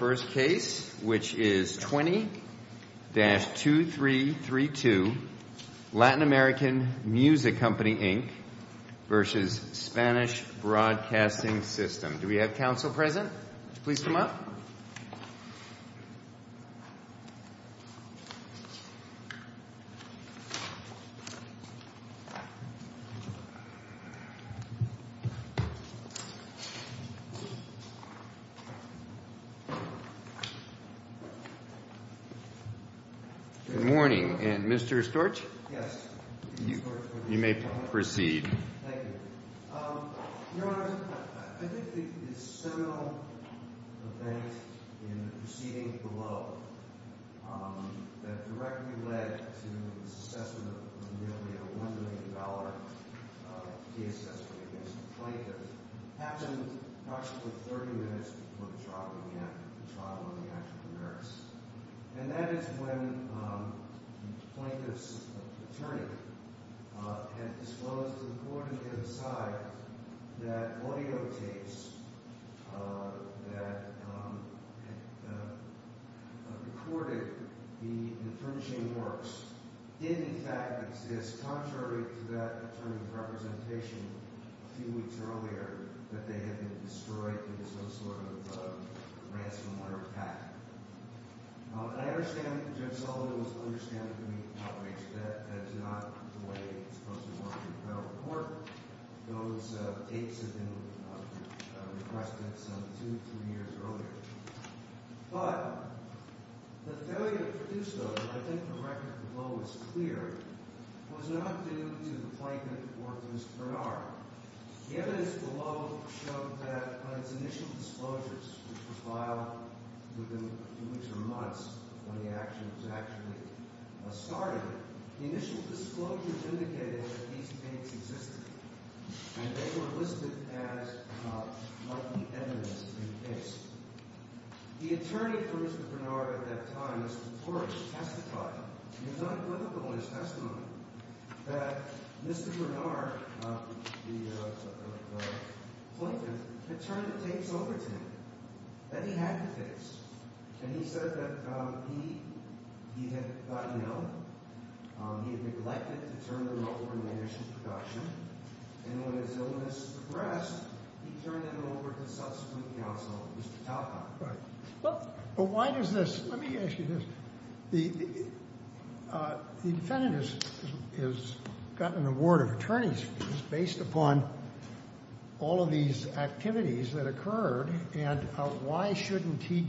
which is 20-2332 Latin American Music Company, Inc. v. Spanish Broadcasting System. Do we have counsel present? Please come up. Good morning, and Mr. Storch? Yes. You may proceed. Thank you. Your Honor, I think the seminal event in the proceeding below that directly led to the trial of the African-Americans. And that is when the plaintiff's attorney had disclosed to the court and the other side that audio tapes that recorded the infurnishing works didn't, in fact, exist, contrary to that attorney's representation a few weeks earlier, that they had been destroyed because of some sort of ransomware attack. Now, I understand Judge Salda was understanding to me how it makes sense. That's not the way it's supposed to work in federal court. Those tapes had been requested some two, three years earlier. But the failure to produce those, and I think the record below is clear, was not due to the plaintiff or to Mr. Bernard. The evidence below showed that on its initial disclosures, which were filed within a few weeks or months when the action was actually started, the initial disclosures indicated that these tapes existed. And they were listed as likely evidence in the case. The attorney for Mr. Bernard at that time, Mr. Storch, testified, and it's not equivocal in his testimony, that Mr. Bernard, the plaintiff, had turned the tapes over to him that he had to fix. And he said that he had gotten ill, he had neglected to turn them over in the initial production, and when his illness progressed, he turned them over to the subsequent counsel, Mr. Talcott. And he said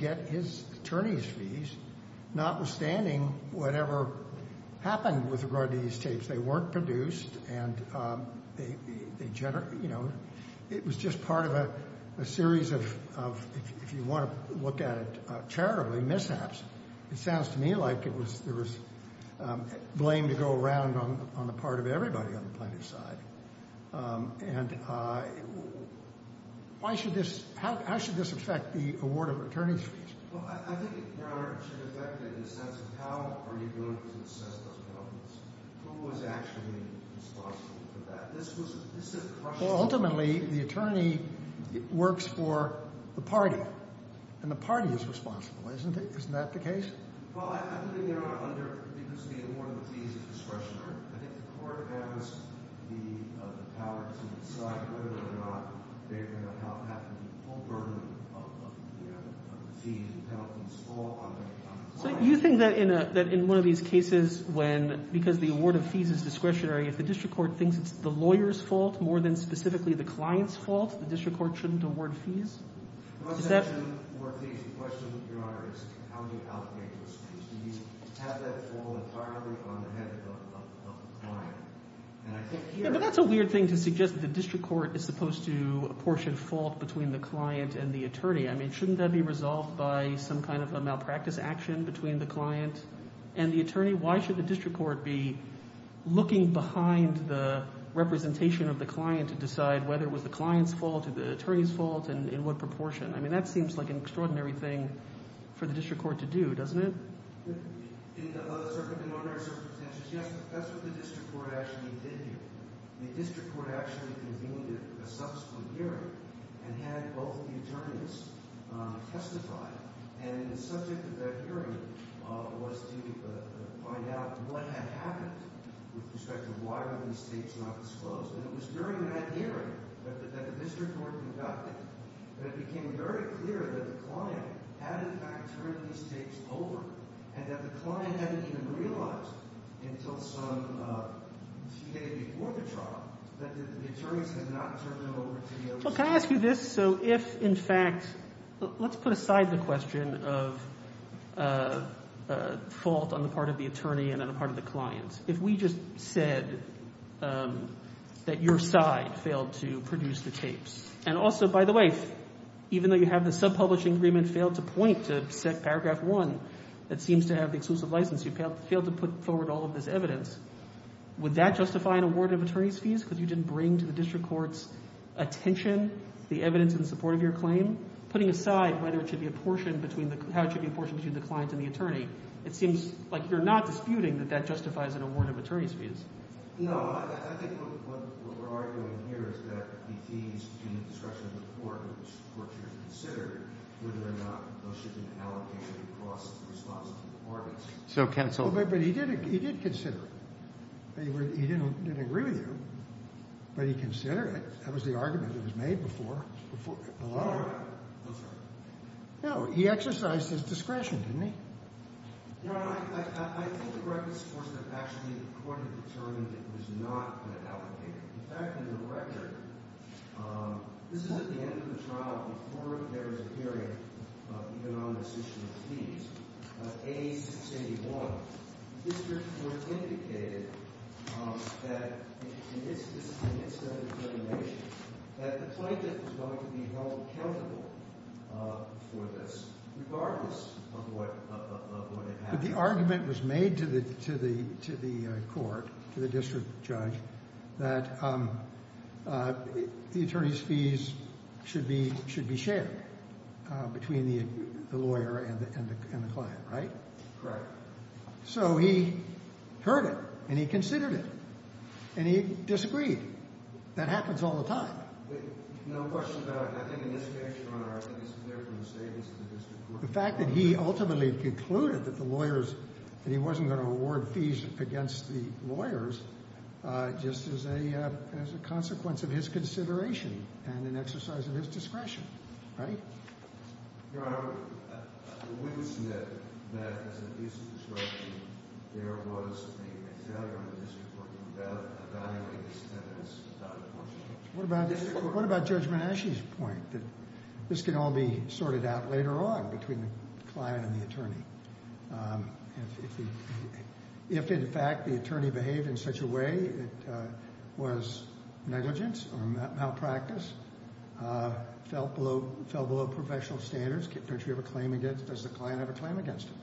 that his attorney's fees, notwithstanding whatever happened with regard to these tapes, they weren't produced, and they, you know, it was just part of a series of, if you want to look at it charitably, mishaps. It sounds to me like there was blame to go around on the part of everybody on the plaintiff's side. And why should this—how should this affect the award of attorney's fees? Well, I think, Your Honor, it should affect it in the sense of how are you going to assess those problems? Who is actually responsible for that? This is a question— Well, ultimately, the attorney works for the party, and the party is responsible, isn't it? Isn't that the case? Well, I think, Your Honor, under—because the award of the fees is discretionary, I think the court has the power to decide whether or not they're going to have to be full burdened of the fees and penalties fall on the plaintiff. You think that in a—that in one of these cases when—because the award of fees is discretionary, if the district court thinks it's the lawyer's fault more than specifically the client's fault, the district court shouldn't award fees? The question, Your Honor, is how do you allocate those fees? Do you have that fall entirely on the head of the client? And I think here— But that's a weird thing to suggest that the district court is supposed to apportion fault between the client and the attorney. I mean, shouldn't that be resolved by some kind of a malpractice action between the client and the attorney? Why should the district court be looking behind the representation of the client to decide whether it was the client's fault or the attorney's fault and in what proportion? I mean, that seems like an extraordinary thing for the district court to do, doesn't it? In other circumstances, yes, but that's what the district court actually did here. The district court actually convened a subsequent hearing and had both the attorneys testify. And the subject of that hearing was to find out what had happened with respect to why were these states not disclosed. And it was during that hearing that the district court conducted that it became very clear that the client had in fact turned these states over and that the client hadn't even realized until some day before the trial that the attorneys had not turned them over to the other states. Can I ask you this? So if, in fact, let's put aside the question of fault on the part of the attorney and on the part of the client. If we just said that your side failed to produce the tapes and also, by the way, even though you have the subpublishing agreement failed to point to paragraph 1 that seems to have the exclusive license, you failed to put forward all of this evidence. Would that justify an award of attorney's fees because you didn't bring to the district court's attention the evidence in support of your claim? Putting aside whether it should be apportioned between the – how it should be apportioned between the client and the attorney, it seems like you're not disputing that that justifies an award of attorney's fees. No, I think what we're arguing here is that the fees in the discretion of the court should be considered whether or not those should be allocated across the responsibility of the parties. But he did consider it. He didn't agree with you, but he considered it. That was the argument that was made before. No, he exercised his discretion, didn't he? Your Honor, I think the record supports that actually the court had determined it was not going to allocate it. In fact, in the record, this is at the end of the trial before there was a hearing even on this issue of fees. But the argument was made to the court, to the district judge, that the attorney's fees should be shared between the lawyer and the client. Right? Correct. So he heard it, and he considered it, and he disagreed. That happens all the time. No question about it. I think in this case, Your Honor, I think it's clear from the statements of the district court. The fact that he ultimately concluded that the lawyers – that he wasn't going to award fees against the lawyers just is a consequence of his consideration and an exercise of his discretion. Right? Your Honor, the witness said that as an abuse of discretion, there was a failure of the district court in evaluating this sentence without apportionment. What about Judge Menasche's point that this can all be sorted out later on between the client and the attorney? If, in fact, the attorney behaved in such a way that was negligence or malpractice, fell below professional standards, does the client have a claim against him?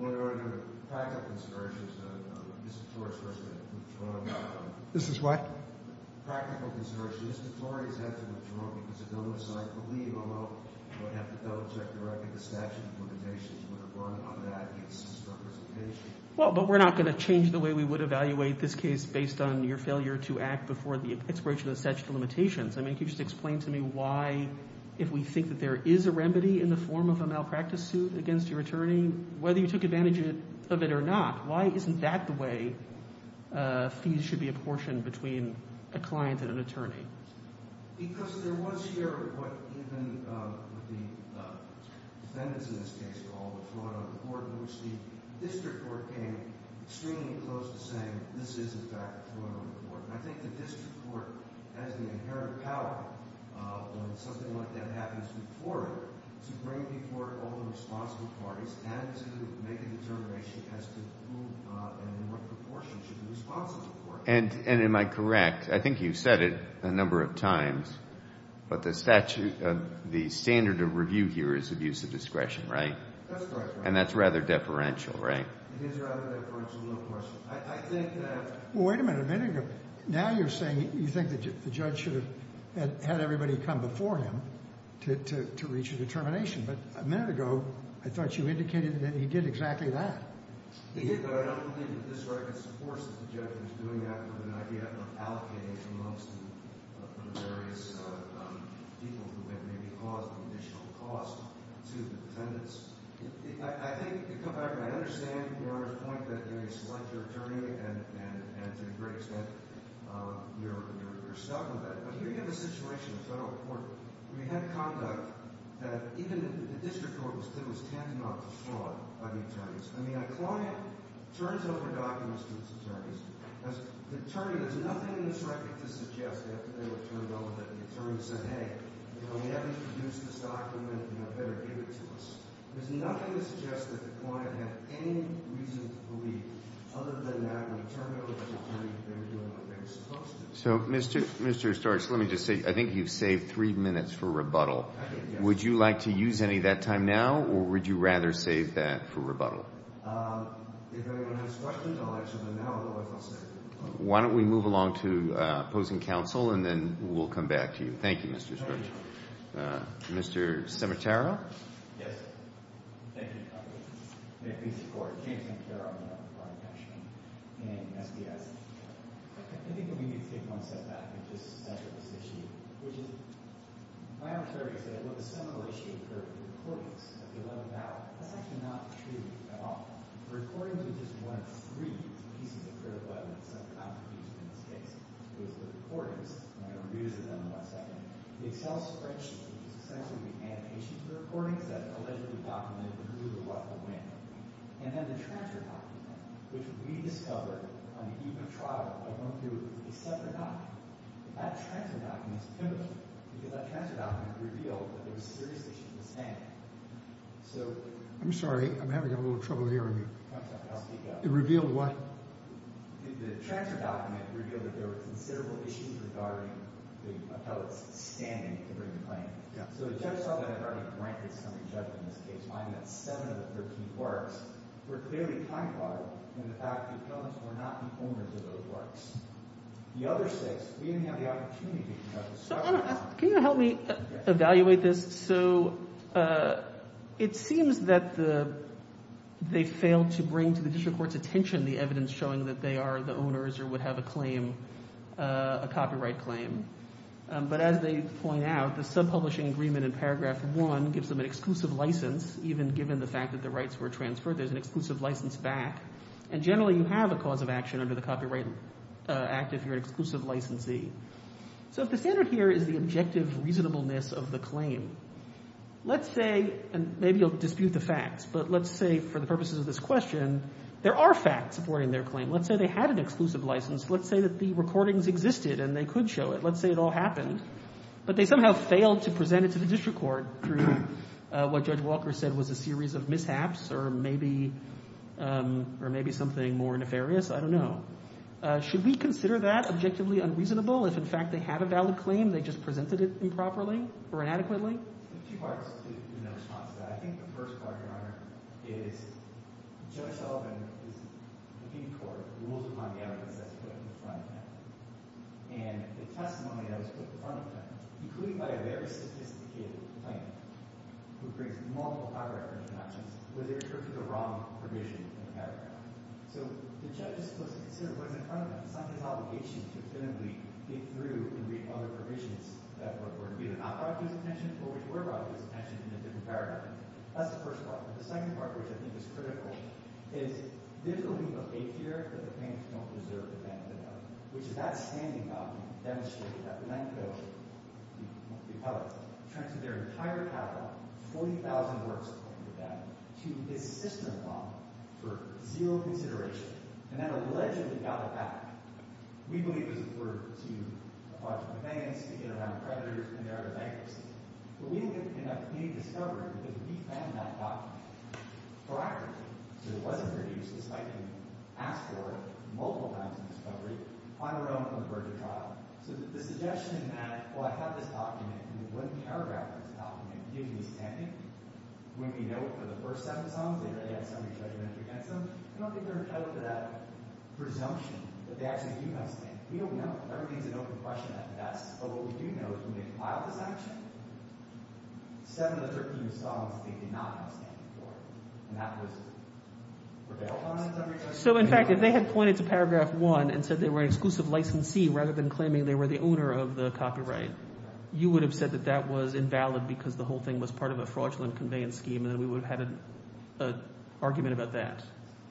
Your Honor, the practical consideration is that the district court is supposed to withdraw. This is what? Practical consideration is the district court is going to have to withdraw because the domicile could leave, although it would have to double-check the statute of limitations would have run on that case's representation. Well, but we're not going to change the way we would evaluate this case based on your failure to act before the expiration of the statute of limitations. I mean, can you just explain to me why, if we think that there is a remedy in the form of a malpractice suit against your attorney, whether you took advantage of it or not, why isn't that the way fees should be apportioned between a client and an attorney? Because there was here what even the defendants in this case called a fraud on the court in which the district court came extremely close to saying this is, in fact, a fraud on the court. And I think the district court has the inherent power when something like that happens to the court to bring before all the responsible parties and to make a determination as to who and in what proportion should be responsible for it. And am I correct, I think you've said it a number of times, but the statute, the standard of review here is abuse of discretion, right? And that's rather deferential, right? It is rather deferential, no question. I think that Well, wait a minute, a minute ago, now you're saying you think that the judge should have had everybody come before him to reach a determination. But a minute ago, I thought you indicated that he did exactly that. He did, but I don't believe that this record supports that the judge was doing that with an idea of allocating amongst the various people who had maybe caused an additional cost to the defendants. I think you come back and I understand your point that you select your attorney and to a great extent you're stuck with that. But here you have a situation in federal court where you have conduct that even the district court was tantamount to fraud by the attorneys. I mean, a client turns over documents to its attorneys. The attorney has nothing in this record to suggest that they were turned over, that the attorney said, hey, you know, we haven't produced this document, you know, better give it to us. There's nothing to suggest that the client had any reason to believe other than that when he turned it over to the attorney, they were doing what they were supposed to. So, Mr. Storch, let me just say, I think you've saved three minutes for rebuttal. Would you like to use any of that time now or would you rather save that for rebuttal? If anyone has questions, I'll answer them now or if I'll save them. Why don't we move along to opposing counsel and then we'll come back to you. Thank you, Mr. Storch. Thank you. Mr. Scimitaro? Yes. Thank you, counsel. May it please the court. James Scimitaro. I'm not a client, actually. In SDS. I think we need to take one step back and just center this issue, which is my observation is that what the seminal issue occurred with the recordings of the 11th hour, that's actually not true at all. The recordings were just one of three pieces of critical evidence that I've produced in this case. It was the recordings, and I'm going to review those in a second. The Excel spreadsheet, which is essentially the annotations of the recordings that allegedly documented who, what, and when. And then the transfer document, which we discovered on the eve of trial by going through a separate document. That transfer document is pivotal because that transfer document revealed that there was serious issues with standing. I'm sorry. I'm having a little trouble hearing you. I'm sorry. I'll speak up. It revealed what? The transfer document revealed that there were considerable issues regarding the appellate's standing to bring the claim. So the judge saw that and granted some re-judgment in this case, finding that seven of the 13 clerks were clearly time-bombed in the fact that Jones were not the owners of those clerks. The other six, we didn't have the opportunity to have discussion on them. Can you help me evaluate this? So it seems that they failed to bring to the district court's attention the evidence showing that they are the owners or would have a claim, a copyright claim. But as they point out, the subpublishing agreement in paragraph one gives them an exclusive license even given the fact that the rights were transferred. There's an exclusive license back. And generally you have a cause of action under the Copyright Act if you're an exclusive licensee. So if the standard here is the objective reasonableness of the claim, let's say, and maybe you'll dispute the facts, but let's say for the purposes of this question, there are facts supporting their claim. Let's say they had an exclusive license. Let's say that the recordings existed and they could show it. Let's say it all happened. But they somehow failed to present it to the district court through what Judge Walker said was a series of mishaps or maybe something more nefarious. I don't know. Should we consider that objectively unreasonable if, in fact, they have a valid claim? They just presented it improperly or inadequately? Well, there are two parts in that response to that. I think the first part, Your Honor, is Judge Sullivan is looking toward rules of condamnation that's put in the front end. And the testimony that was put in the front end, included by a very sophisticated plaintiff who brings multiple copyright infringing options, was it referred to the wrong provision in the paragraph. So the judge is supposed to consider what's in front of him. It's not his obligation to willingly dig through and read other provisions that were either not brought to his attention or which were brought to his attention in a different paragraph. That's the first part. But the second part, which I think is critical, is there's a little bit of faith here that the plaintiffs don't deserve the benefit of, which is that standing document demonstrated that the Ninth Village, the appellate, transferred their entire capital, 40,000 works according to them, to this system of law for zero consideration. And that allegedly got it back. We believe it was referred to a bunch of events to get around creditors and their bankruptcy. But we didn't get any discovery because we found that document prior to it. So it wasn't produced despite being asked for it multiple times in discovery on our own on the verge of trial. So the suggestion that, well, I have this document, and we wouldn't care about this document, gives me standing. When we know it for the first seven songs, they really had somebody's judgment against them. I don't think they're held to that presumption that they actually do have standing. We don't know. Everything's an open question at best. But what we do know is when they filed this action, seven of the 13 songs, they did not have standing for it. And that was rebelled on in summary. So, in fact, if they had pointed to paragraph one and said they were an exclusive licensee rather than claiming they were the owner of the copyright, you would have said that that was invalid because the whole thing was part of a fraudulent conveyance scheme, and then we would have had an argument about that,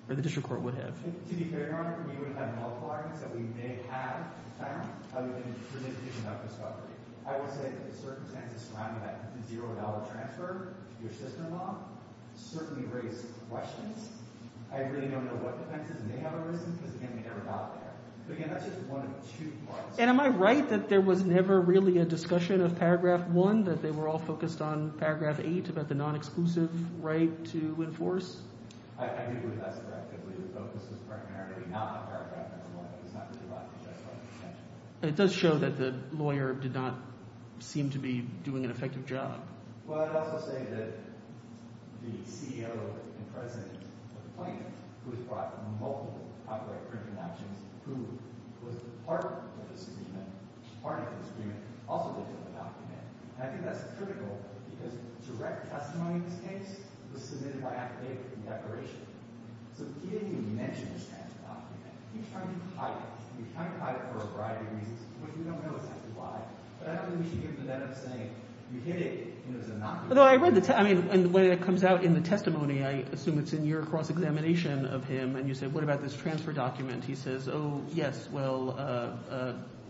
or the district court would have. To be fair, Your Honor, we would have had multiple arguments that we may have found other than the presumption of discovery. I would say that the circumstances surrounding that $0 transfer to your sister-in-law certainly raise questions. I really don't know what defenses may have arisen because, again, we never got there. But, again, that's just one of two parts. And am I right that there was never really a discussion of paragraph one, that they were all focused on paragraph eight about the non-exclusive right to enforce? I do believe that's correct. I believe the focus was primarily not on paragraph number one. It was not really about the justified exemption. It does show that the lawyer did not seem to be doing an effective job. Well, I'd also say that the CEO and president of the plaintiff, who has brought multiple copyright infringement actions, who was part of the agreement, also did fill the document. And I think that's critical because direct testimony in this case was submitted by affidavit in declaration. So he didn't even mention this kind of document. He was trying to hide it. He was trying to hide it for a variety of reasons, which we don't know exactly why. But I don't think we should give them that up, saying you hid it and it was innocuous. I mean, when it comes out in the testimony, I assume it's in your cross-examination of him, and you say, what about this transfer document? He says, oh, yes, well,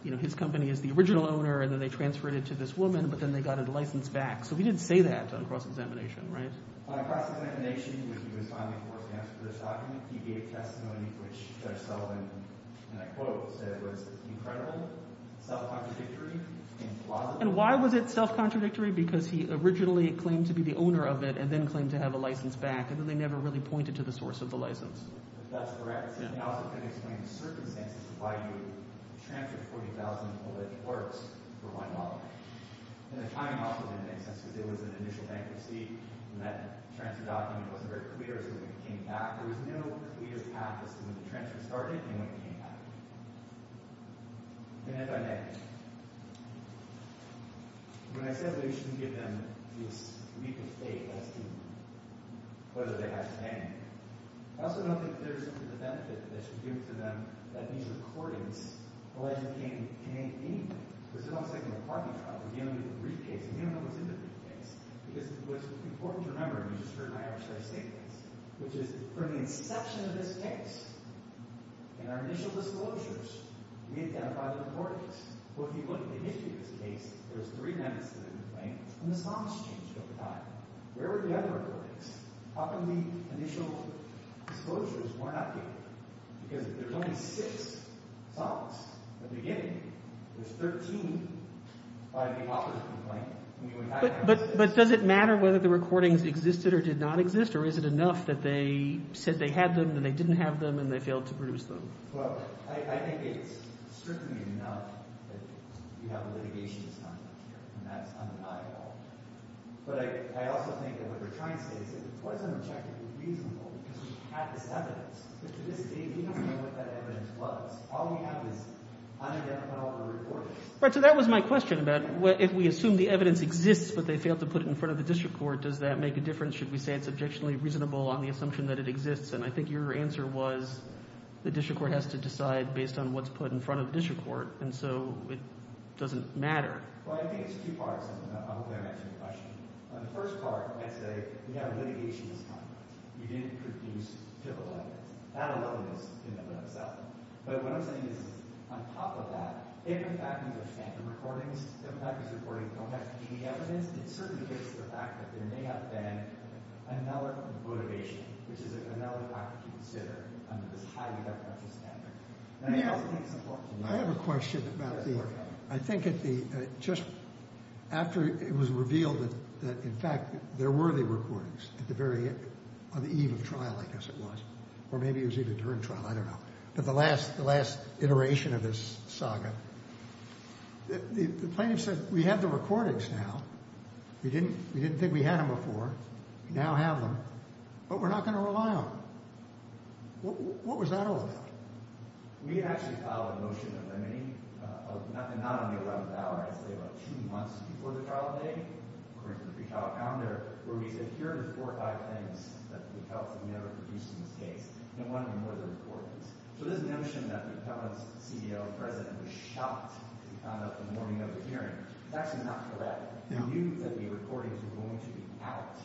you know, his company is the original owner, and then they transferred it to this woman, but then they got a license back. So he didn't say that on cross-examination, right? On cross-examination, when he was finally forced to answer this document, he gave testimony which Judge Sullivan, in a quote, said was incredible, self-contradictory, implausible. And why was it self-contradictory? Because he originally claimed to be the owner of it and then claimed to have a license back, and then they never really pointed to the source of the license. That's correct. And he also couldn't explain the circumstances of why you transferred $40,000 in alleged works for $1. And the timing also didn't make sense because there was an initial bankruptcy, and that transfer document wasn't very clear as to when it came back. There was no clear path as to when the transfer started and when it came back. Hand-by-hand. When I said we shouldn't give them this legal state as to whether they have to pay anything, I also don't think there's the benefit that they should give to them that these recordings, alleged payment, can aid anything. Because it's almost like an apartment property. You don't need a briefcase, and you don't know what's in the briefcase. Because what's important to remember, and you just heard an Irish guy say this, which is from the inception of this case, in our initial disclosures, we identified the recordings. Well, if you look at the history of this case, there's three men that's been complained, and the songs changed over time. Where were the other recordings? How come the initial disclosures were not given? Because there's only six songs at the beginning. There's 13 by the author of the complaint. But does it matter whether the recordings existed or did not exist, or is it enough that they said they had them and they didn't have them and they failed to produce them? I think it's strictly enough that you have a litigation that's coming up here, and that's undeniable. But I also think that what they're trying to say is that it wasn't objectively reasonable because we had this evidence. But to this day, we don't know what that evidence was. All we have is unidentified recordings. Right, so that was my question about if we assume the evidence exists but they failed to put it in front of the district court, does that make a difference? Should we say it's objectionably reasonable on the assumption that it exists? And I think your answer was the district court has to decide based on what's put in front of the district court, and so it doesn't matter. Well, I think there's two parts to that. I hope I answered your question. On the first part, I'd say we have a litigation that's coming up. We didn't produce typical evidence. That alone is in and of itself. But what I'm saying is on top of that, if in fact these are phantom recordings, if in fact these recordings don't have any evidence, it certainly gives the fact that there may have been analog motivation, which is another factor to consider under this highly defenseless standard. And I also think it's important to know that. I have a question about the... I think just after it was revealed that in fact there were the recordings at the very end, on the eve of trial, I guess it was, or maybe it was even during trial, I don't know, but the last iteration of this saga, the plaintiff said, we have the recordings now. We didn't think we had them before. We now have them. But we're not going to rely on them. What was that all about? We had actually filed a motion of lemony, not on the 11th hour, I'd say about two months before the trial date, according to the pre-trial calendar, where we said, here are the four or five things that we felt that we never produced in this case, and one of them were the recordings. So this notion that the Pellman CEO and President were shocked when they found out in the morning of the hearing, is actually not correct. They knew that the recordings were going to be out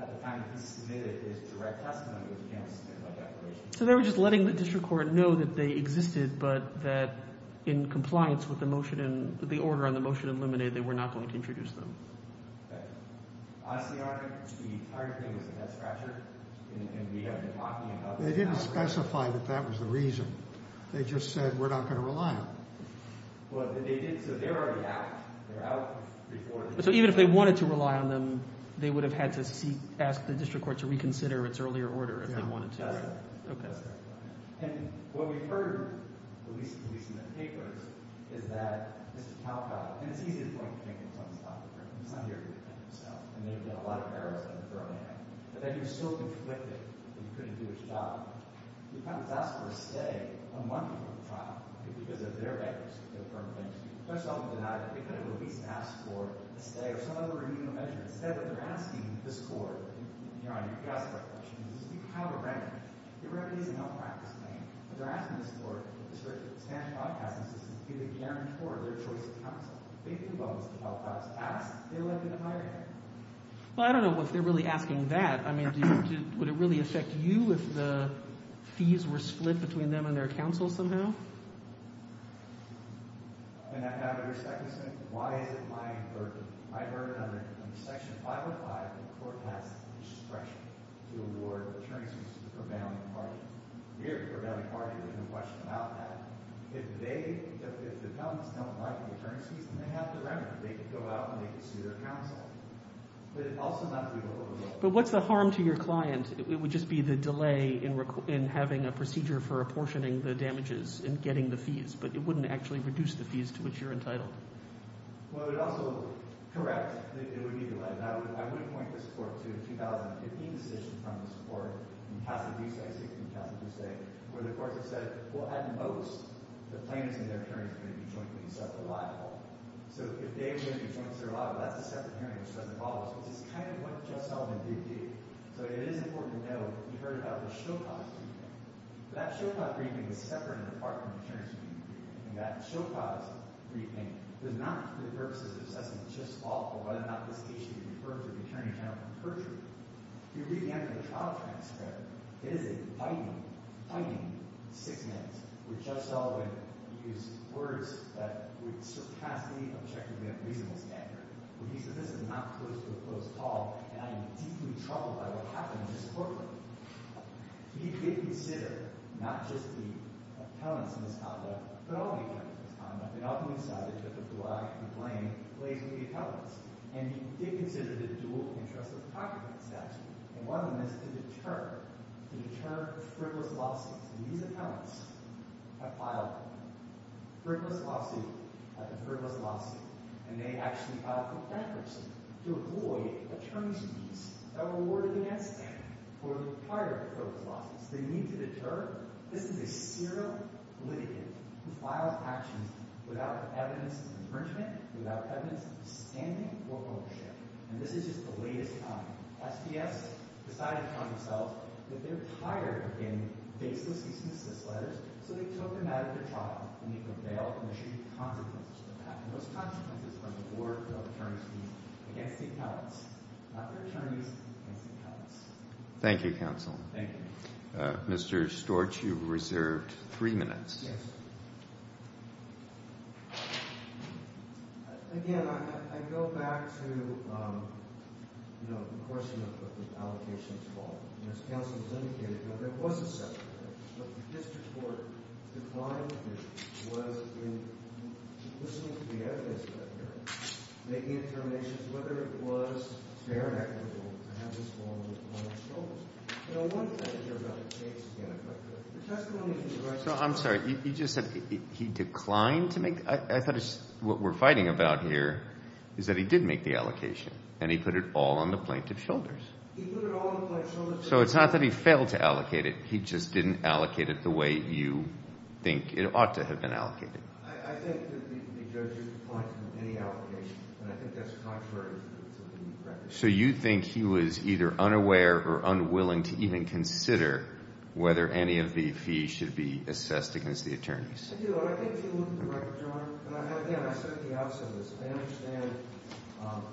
at the time that he submitted his direct testimony, which he never submitted by declaration. So they were just letting the district court know that they existed, but that in compliance with the order on the motion of lemony, they were not going to introduce them. Okay. Obviously, the entire thing was a head-scratcher, and we have been talking about this now. They didn't specify that that was the reason. They just said, we're not going to rely on them. So they're already out. So even if they wanted to rely on them, they would have had to ask the district court to reconsider its earlier order if they wanted to. That's correct. And what we've heard, at least in the papers, is that Mr. Talcott, and it's easy to point to Jenkins on this topic, because I'm here to defend himself, and they've done a lot of errors on this early on, but that he was so conflicted that he couldn't do his job, he found it disastrous to stay a month before the trial because of their efforts to affirm things. First of all, they could have at least asked for a stay or some other remunerative measure. Instead, what they're asking the district court, and Your Honor, you asked that question, this is kind of a random question. It really is a malpractice thing. What they're asking the district court, the Spanish Broadcasting System, is to be the guarantor of their choice of counsel. They think about Mr. Talcott's asks. They elect him to hire him. Well, I don't know if they're really asking that. I mean, would it really affect you if the fees were split between them and their counsel somehow? But what's the harm to your client? It would just be the delay in having a procedure for apportioning the damages and getting the fees, but it wouldn't actually reduce the fees to which you're entitled. As some of you know, you heard about the Show Cause Briefing. That Show Cause Briefing is separate and apart from the Attorney's Briefing. And that Show Cause Briefing does not, for the purposes of this assessment, just offer whether or not this case should be referred to the Attorney General for perjury. If you read the end of the trial transcript, it is a biting, biting six minutes with Judge Sullivan using words that would surpass the objectively unreasonable standard. When he says, this is not close to a close call, and I am deeply troubled by what happened in this courtroom, he did consider not just the appellants in this conduct, but all the appellants in this conduct, and ultimately decided that the blame lays with the appellants. And he did consider the dual interests of the procurement statute. And one of them is to deter, to deter frivolous lawsuits. And these appellants have filed a frivolous lawsuit, a frivolous lawsuit, and they actually filed a complaint to avoid attorney's fees that were awarded against them for prior frivolous lawsuits. They need to deter. This is a serial litigant who files actions without evidence of infringement, without evidence of standing for ownership. And this is just the latest time. SDS decided upon themselves that they're tired of getting faceless cease and desist letters, so they took them out of the trial and they could bail, and there should be consequences for that. And those consequences are the board of attorneys' fees against the appellants, not the attorneys against the appellants. Thank you, counsel. Thank you. Mr. Storch, you've reserved three minutes. Yes. Again, I go back to, you know, the question of the allocations fault. And as counsel has indicated, there was a separate case. This court declined to listen to the evidence of that hearing, making determinations whether it was fair and equitable to have this fall on the plaintiff's shoulders. You know, one thing here about the case, again, if I could. The testimony from the right side. I'm sorry. You just said he declined to make the ñ I thought it was what we're fighting about here is that he did make the allocation, and he put it all on the plaintiff's shoulders. He put it all on the plaintiff's shoulders. So it's not that he failed to allocate it. He just didn't allocate it the way you think it ought to have been allocated. I think that the judge used the point of any allocation, and I think that's contrary to the record. So you think he was either unaware or unwilling to even consider whether any of the fees should be assessed against the attorneys? I do. And I think if you look at the record, Your Honor, and again, I said it the opposite of this. I understand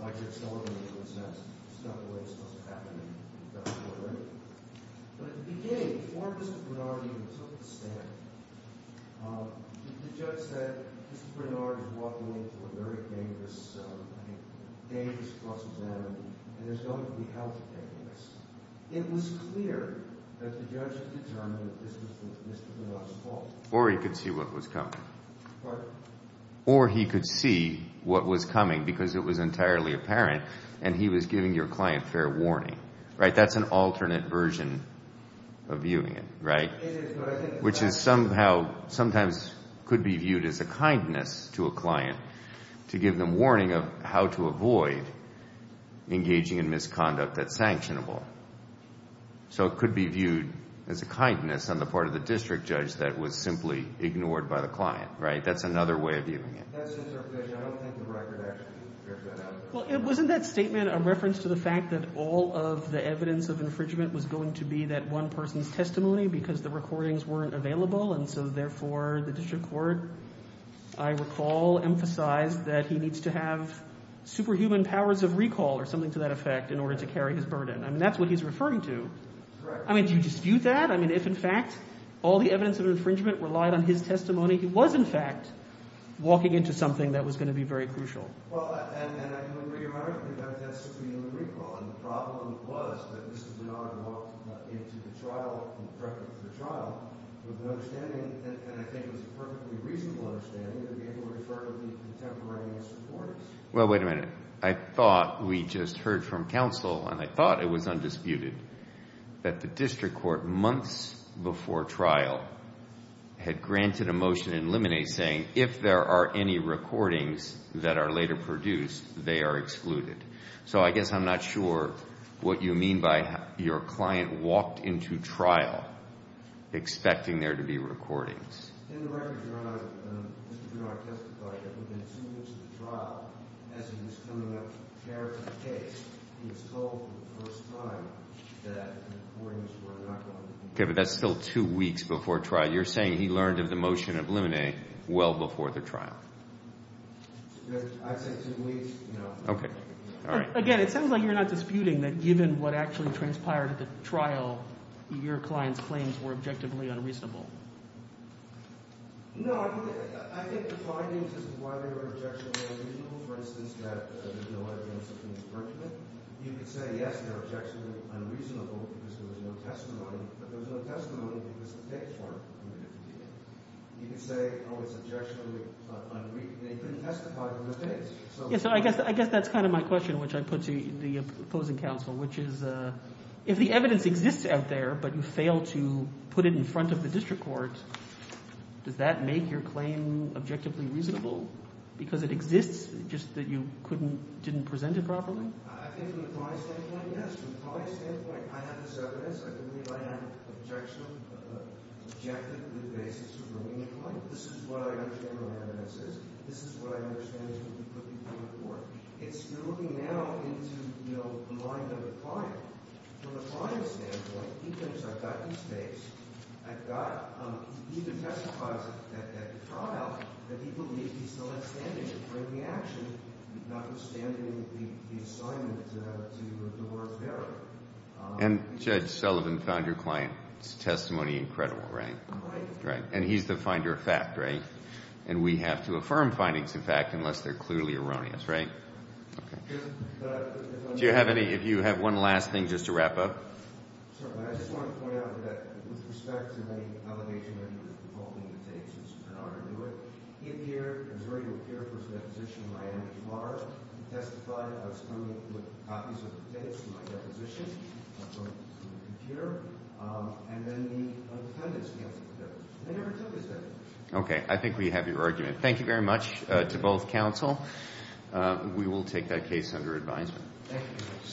why Judge Sullivan, in a sense, stuck the way it's supposed to happen, and he doesn't know it or anything. But at the beginning, before Mr. Bernard even took the stand, the judge said Mr. Bernard is walking into a very dangerous, I think, dangerous cross-examination, and there's going to be hell to pay for this. It was clear that the judge had determined that this was Mr. Bernard's fault. Or he could see what was coming. Pardon? Or he could see what was coming because it was entirely apparent and he was giving your client fair warning, right? That's an alternate version of viewing it, right? It is. Which is somehow sometimes could be viewed as a kindness to a client to give them warning of how to avoid engaging in misconduct that's sanctionable. So it could be viewed as a kindness on the part of the district judge that was simply ignored by the client, right? That's another way of viewing it. That's just our position. I don't think the record actually bears that out. Well, wasn't that statement a reference to the fact that all of the evidence of infringement was going to be that one person's testimony because the recordings weren't available and so therefore the district court, I recall, emphasized that he needs to have superhuman powers of recall or something to that effect in order to carry his burden. I mean, that's what he's referring to. I mean, do you dispute that? I mean, if in fact all the evidence of infringement relied on his testimony, he was in fact walking into something that was going to be very crucial. Well, and I do agree, Your Honor, that that's superhuman recall, and the problem was that this was an honor to walk into the trial, in the preface to the trial, with an understanding, and I think it was a perfectly reasonable understanding, to be able to refer to the contemporaneous recordings. Well, wait a minute. I thought we just heard from counsel, and I thought it was undisputed, that the district court months before trial had granted a motion in limine saying if there are any recordings that are later produced, they are excluded. So I guess I'm not sure what you mean by your client walked into trial expecting there to be recordings. In the record, Your Honor, Mr. Giroir testified that within two weeks of the trial, as he was coming up fair to the case, he was told for the first time that the recordings were not going to be produced. Okay, but that's still two weeks before trial. You're saying he learned of the motion of limine well before the trial. I'd say two weeks, no. Okay. All right. Again, it sounds like you're not disputing that, given what actually transpired at the trial, your client's claims were objectively unreasonable. No, I think the findings as to why they were objectionably unreasonable, for instance, that there's no evidence of an infringement, you could say, yes, they're objectionably unreasonable because there was no testimony, but there was no testimony because the dates weren't permitted to be made. You could say, oh, it's objectionably unreasonable. They couldn't testify on those dates. So I guess that's kind of my question, which I put to the opposing counsel, which is if the evidence exists out there, but you fail to put it in front of the district court, does that make your claim objectively reasonable because it exists, just that you couldn't – didn't present it properly? I think from the client's standpoint, yes. From the client's standpoint, I have this evidence. I believe I have an objectionable basis for bringing it forward. This is what I understand what evidence is. This is what I understand is what you put before the court. You're looking now into the mind of the client. From the client's standpoint, he thinks I've got these dates. I've got – he didn't testify at that trial, but he believes he still has standing to bring the action, notwithstanding the assignment to the court of error. And Judge Sullivan found your client's testimony incredible, right? Right. Right. And he's the finder of fact, right? And we have to affirm findings of fact unless they're clearly erroneous, right? Okay. Do you have any – if you have one last thing just to wrap up? Sir, I just want to point out that with respect to the allegation that you were He testified. I was coming with copies of the dates to my deposition. I was going to the computer. And then the defendants, they never took his evidence. Okay. I think we have your argument. Thank you very much to both counsel. We will take that case under advisement. Thank you.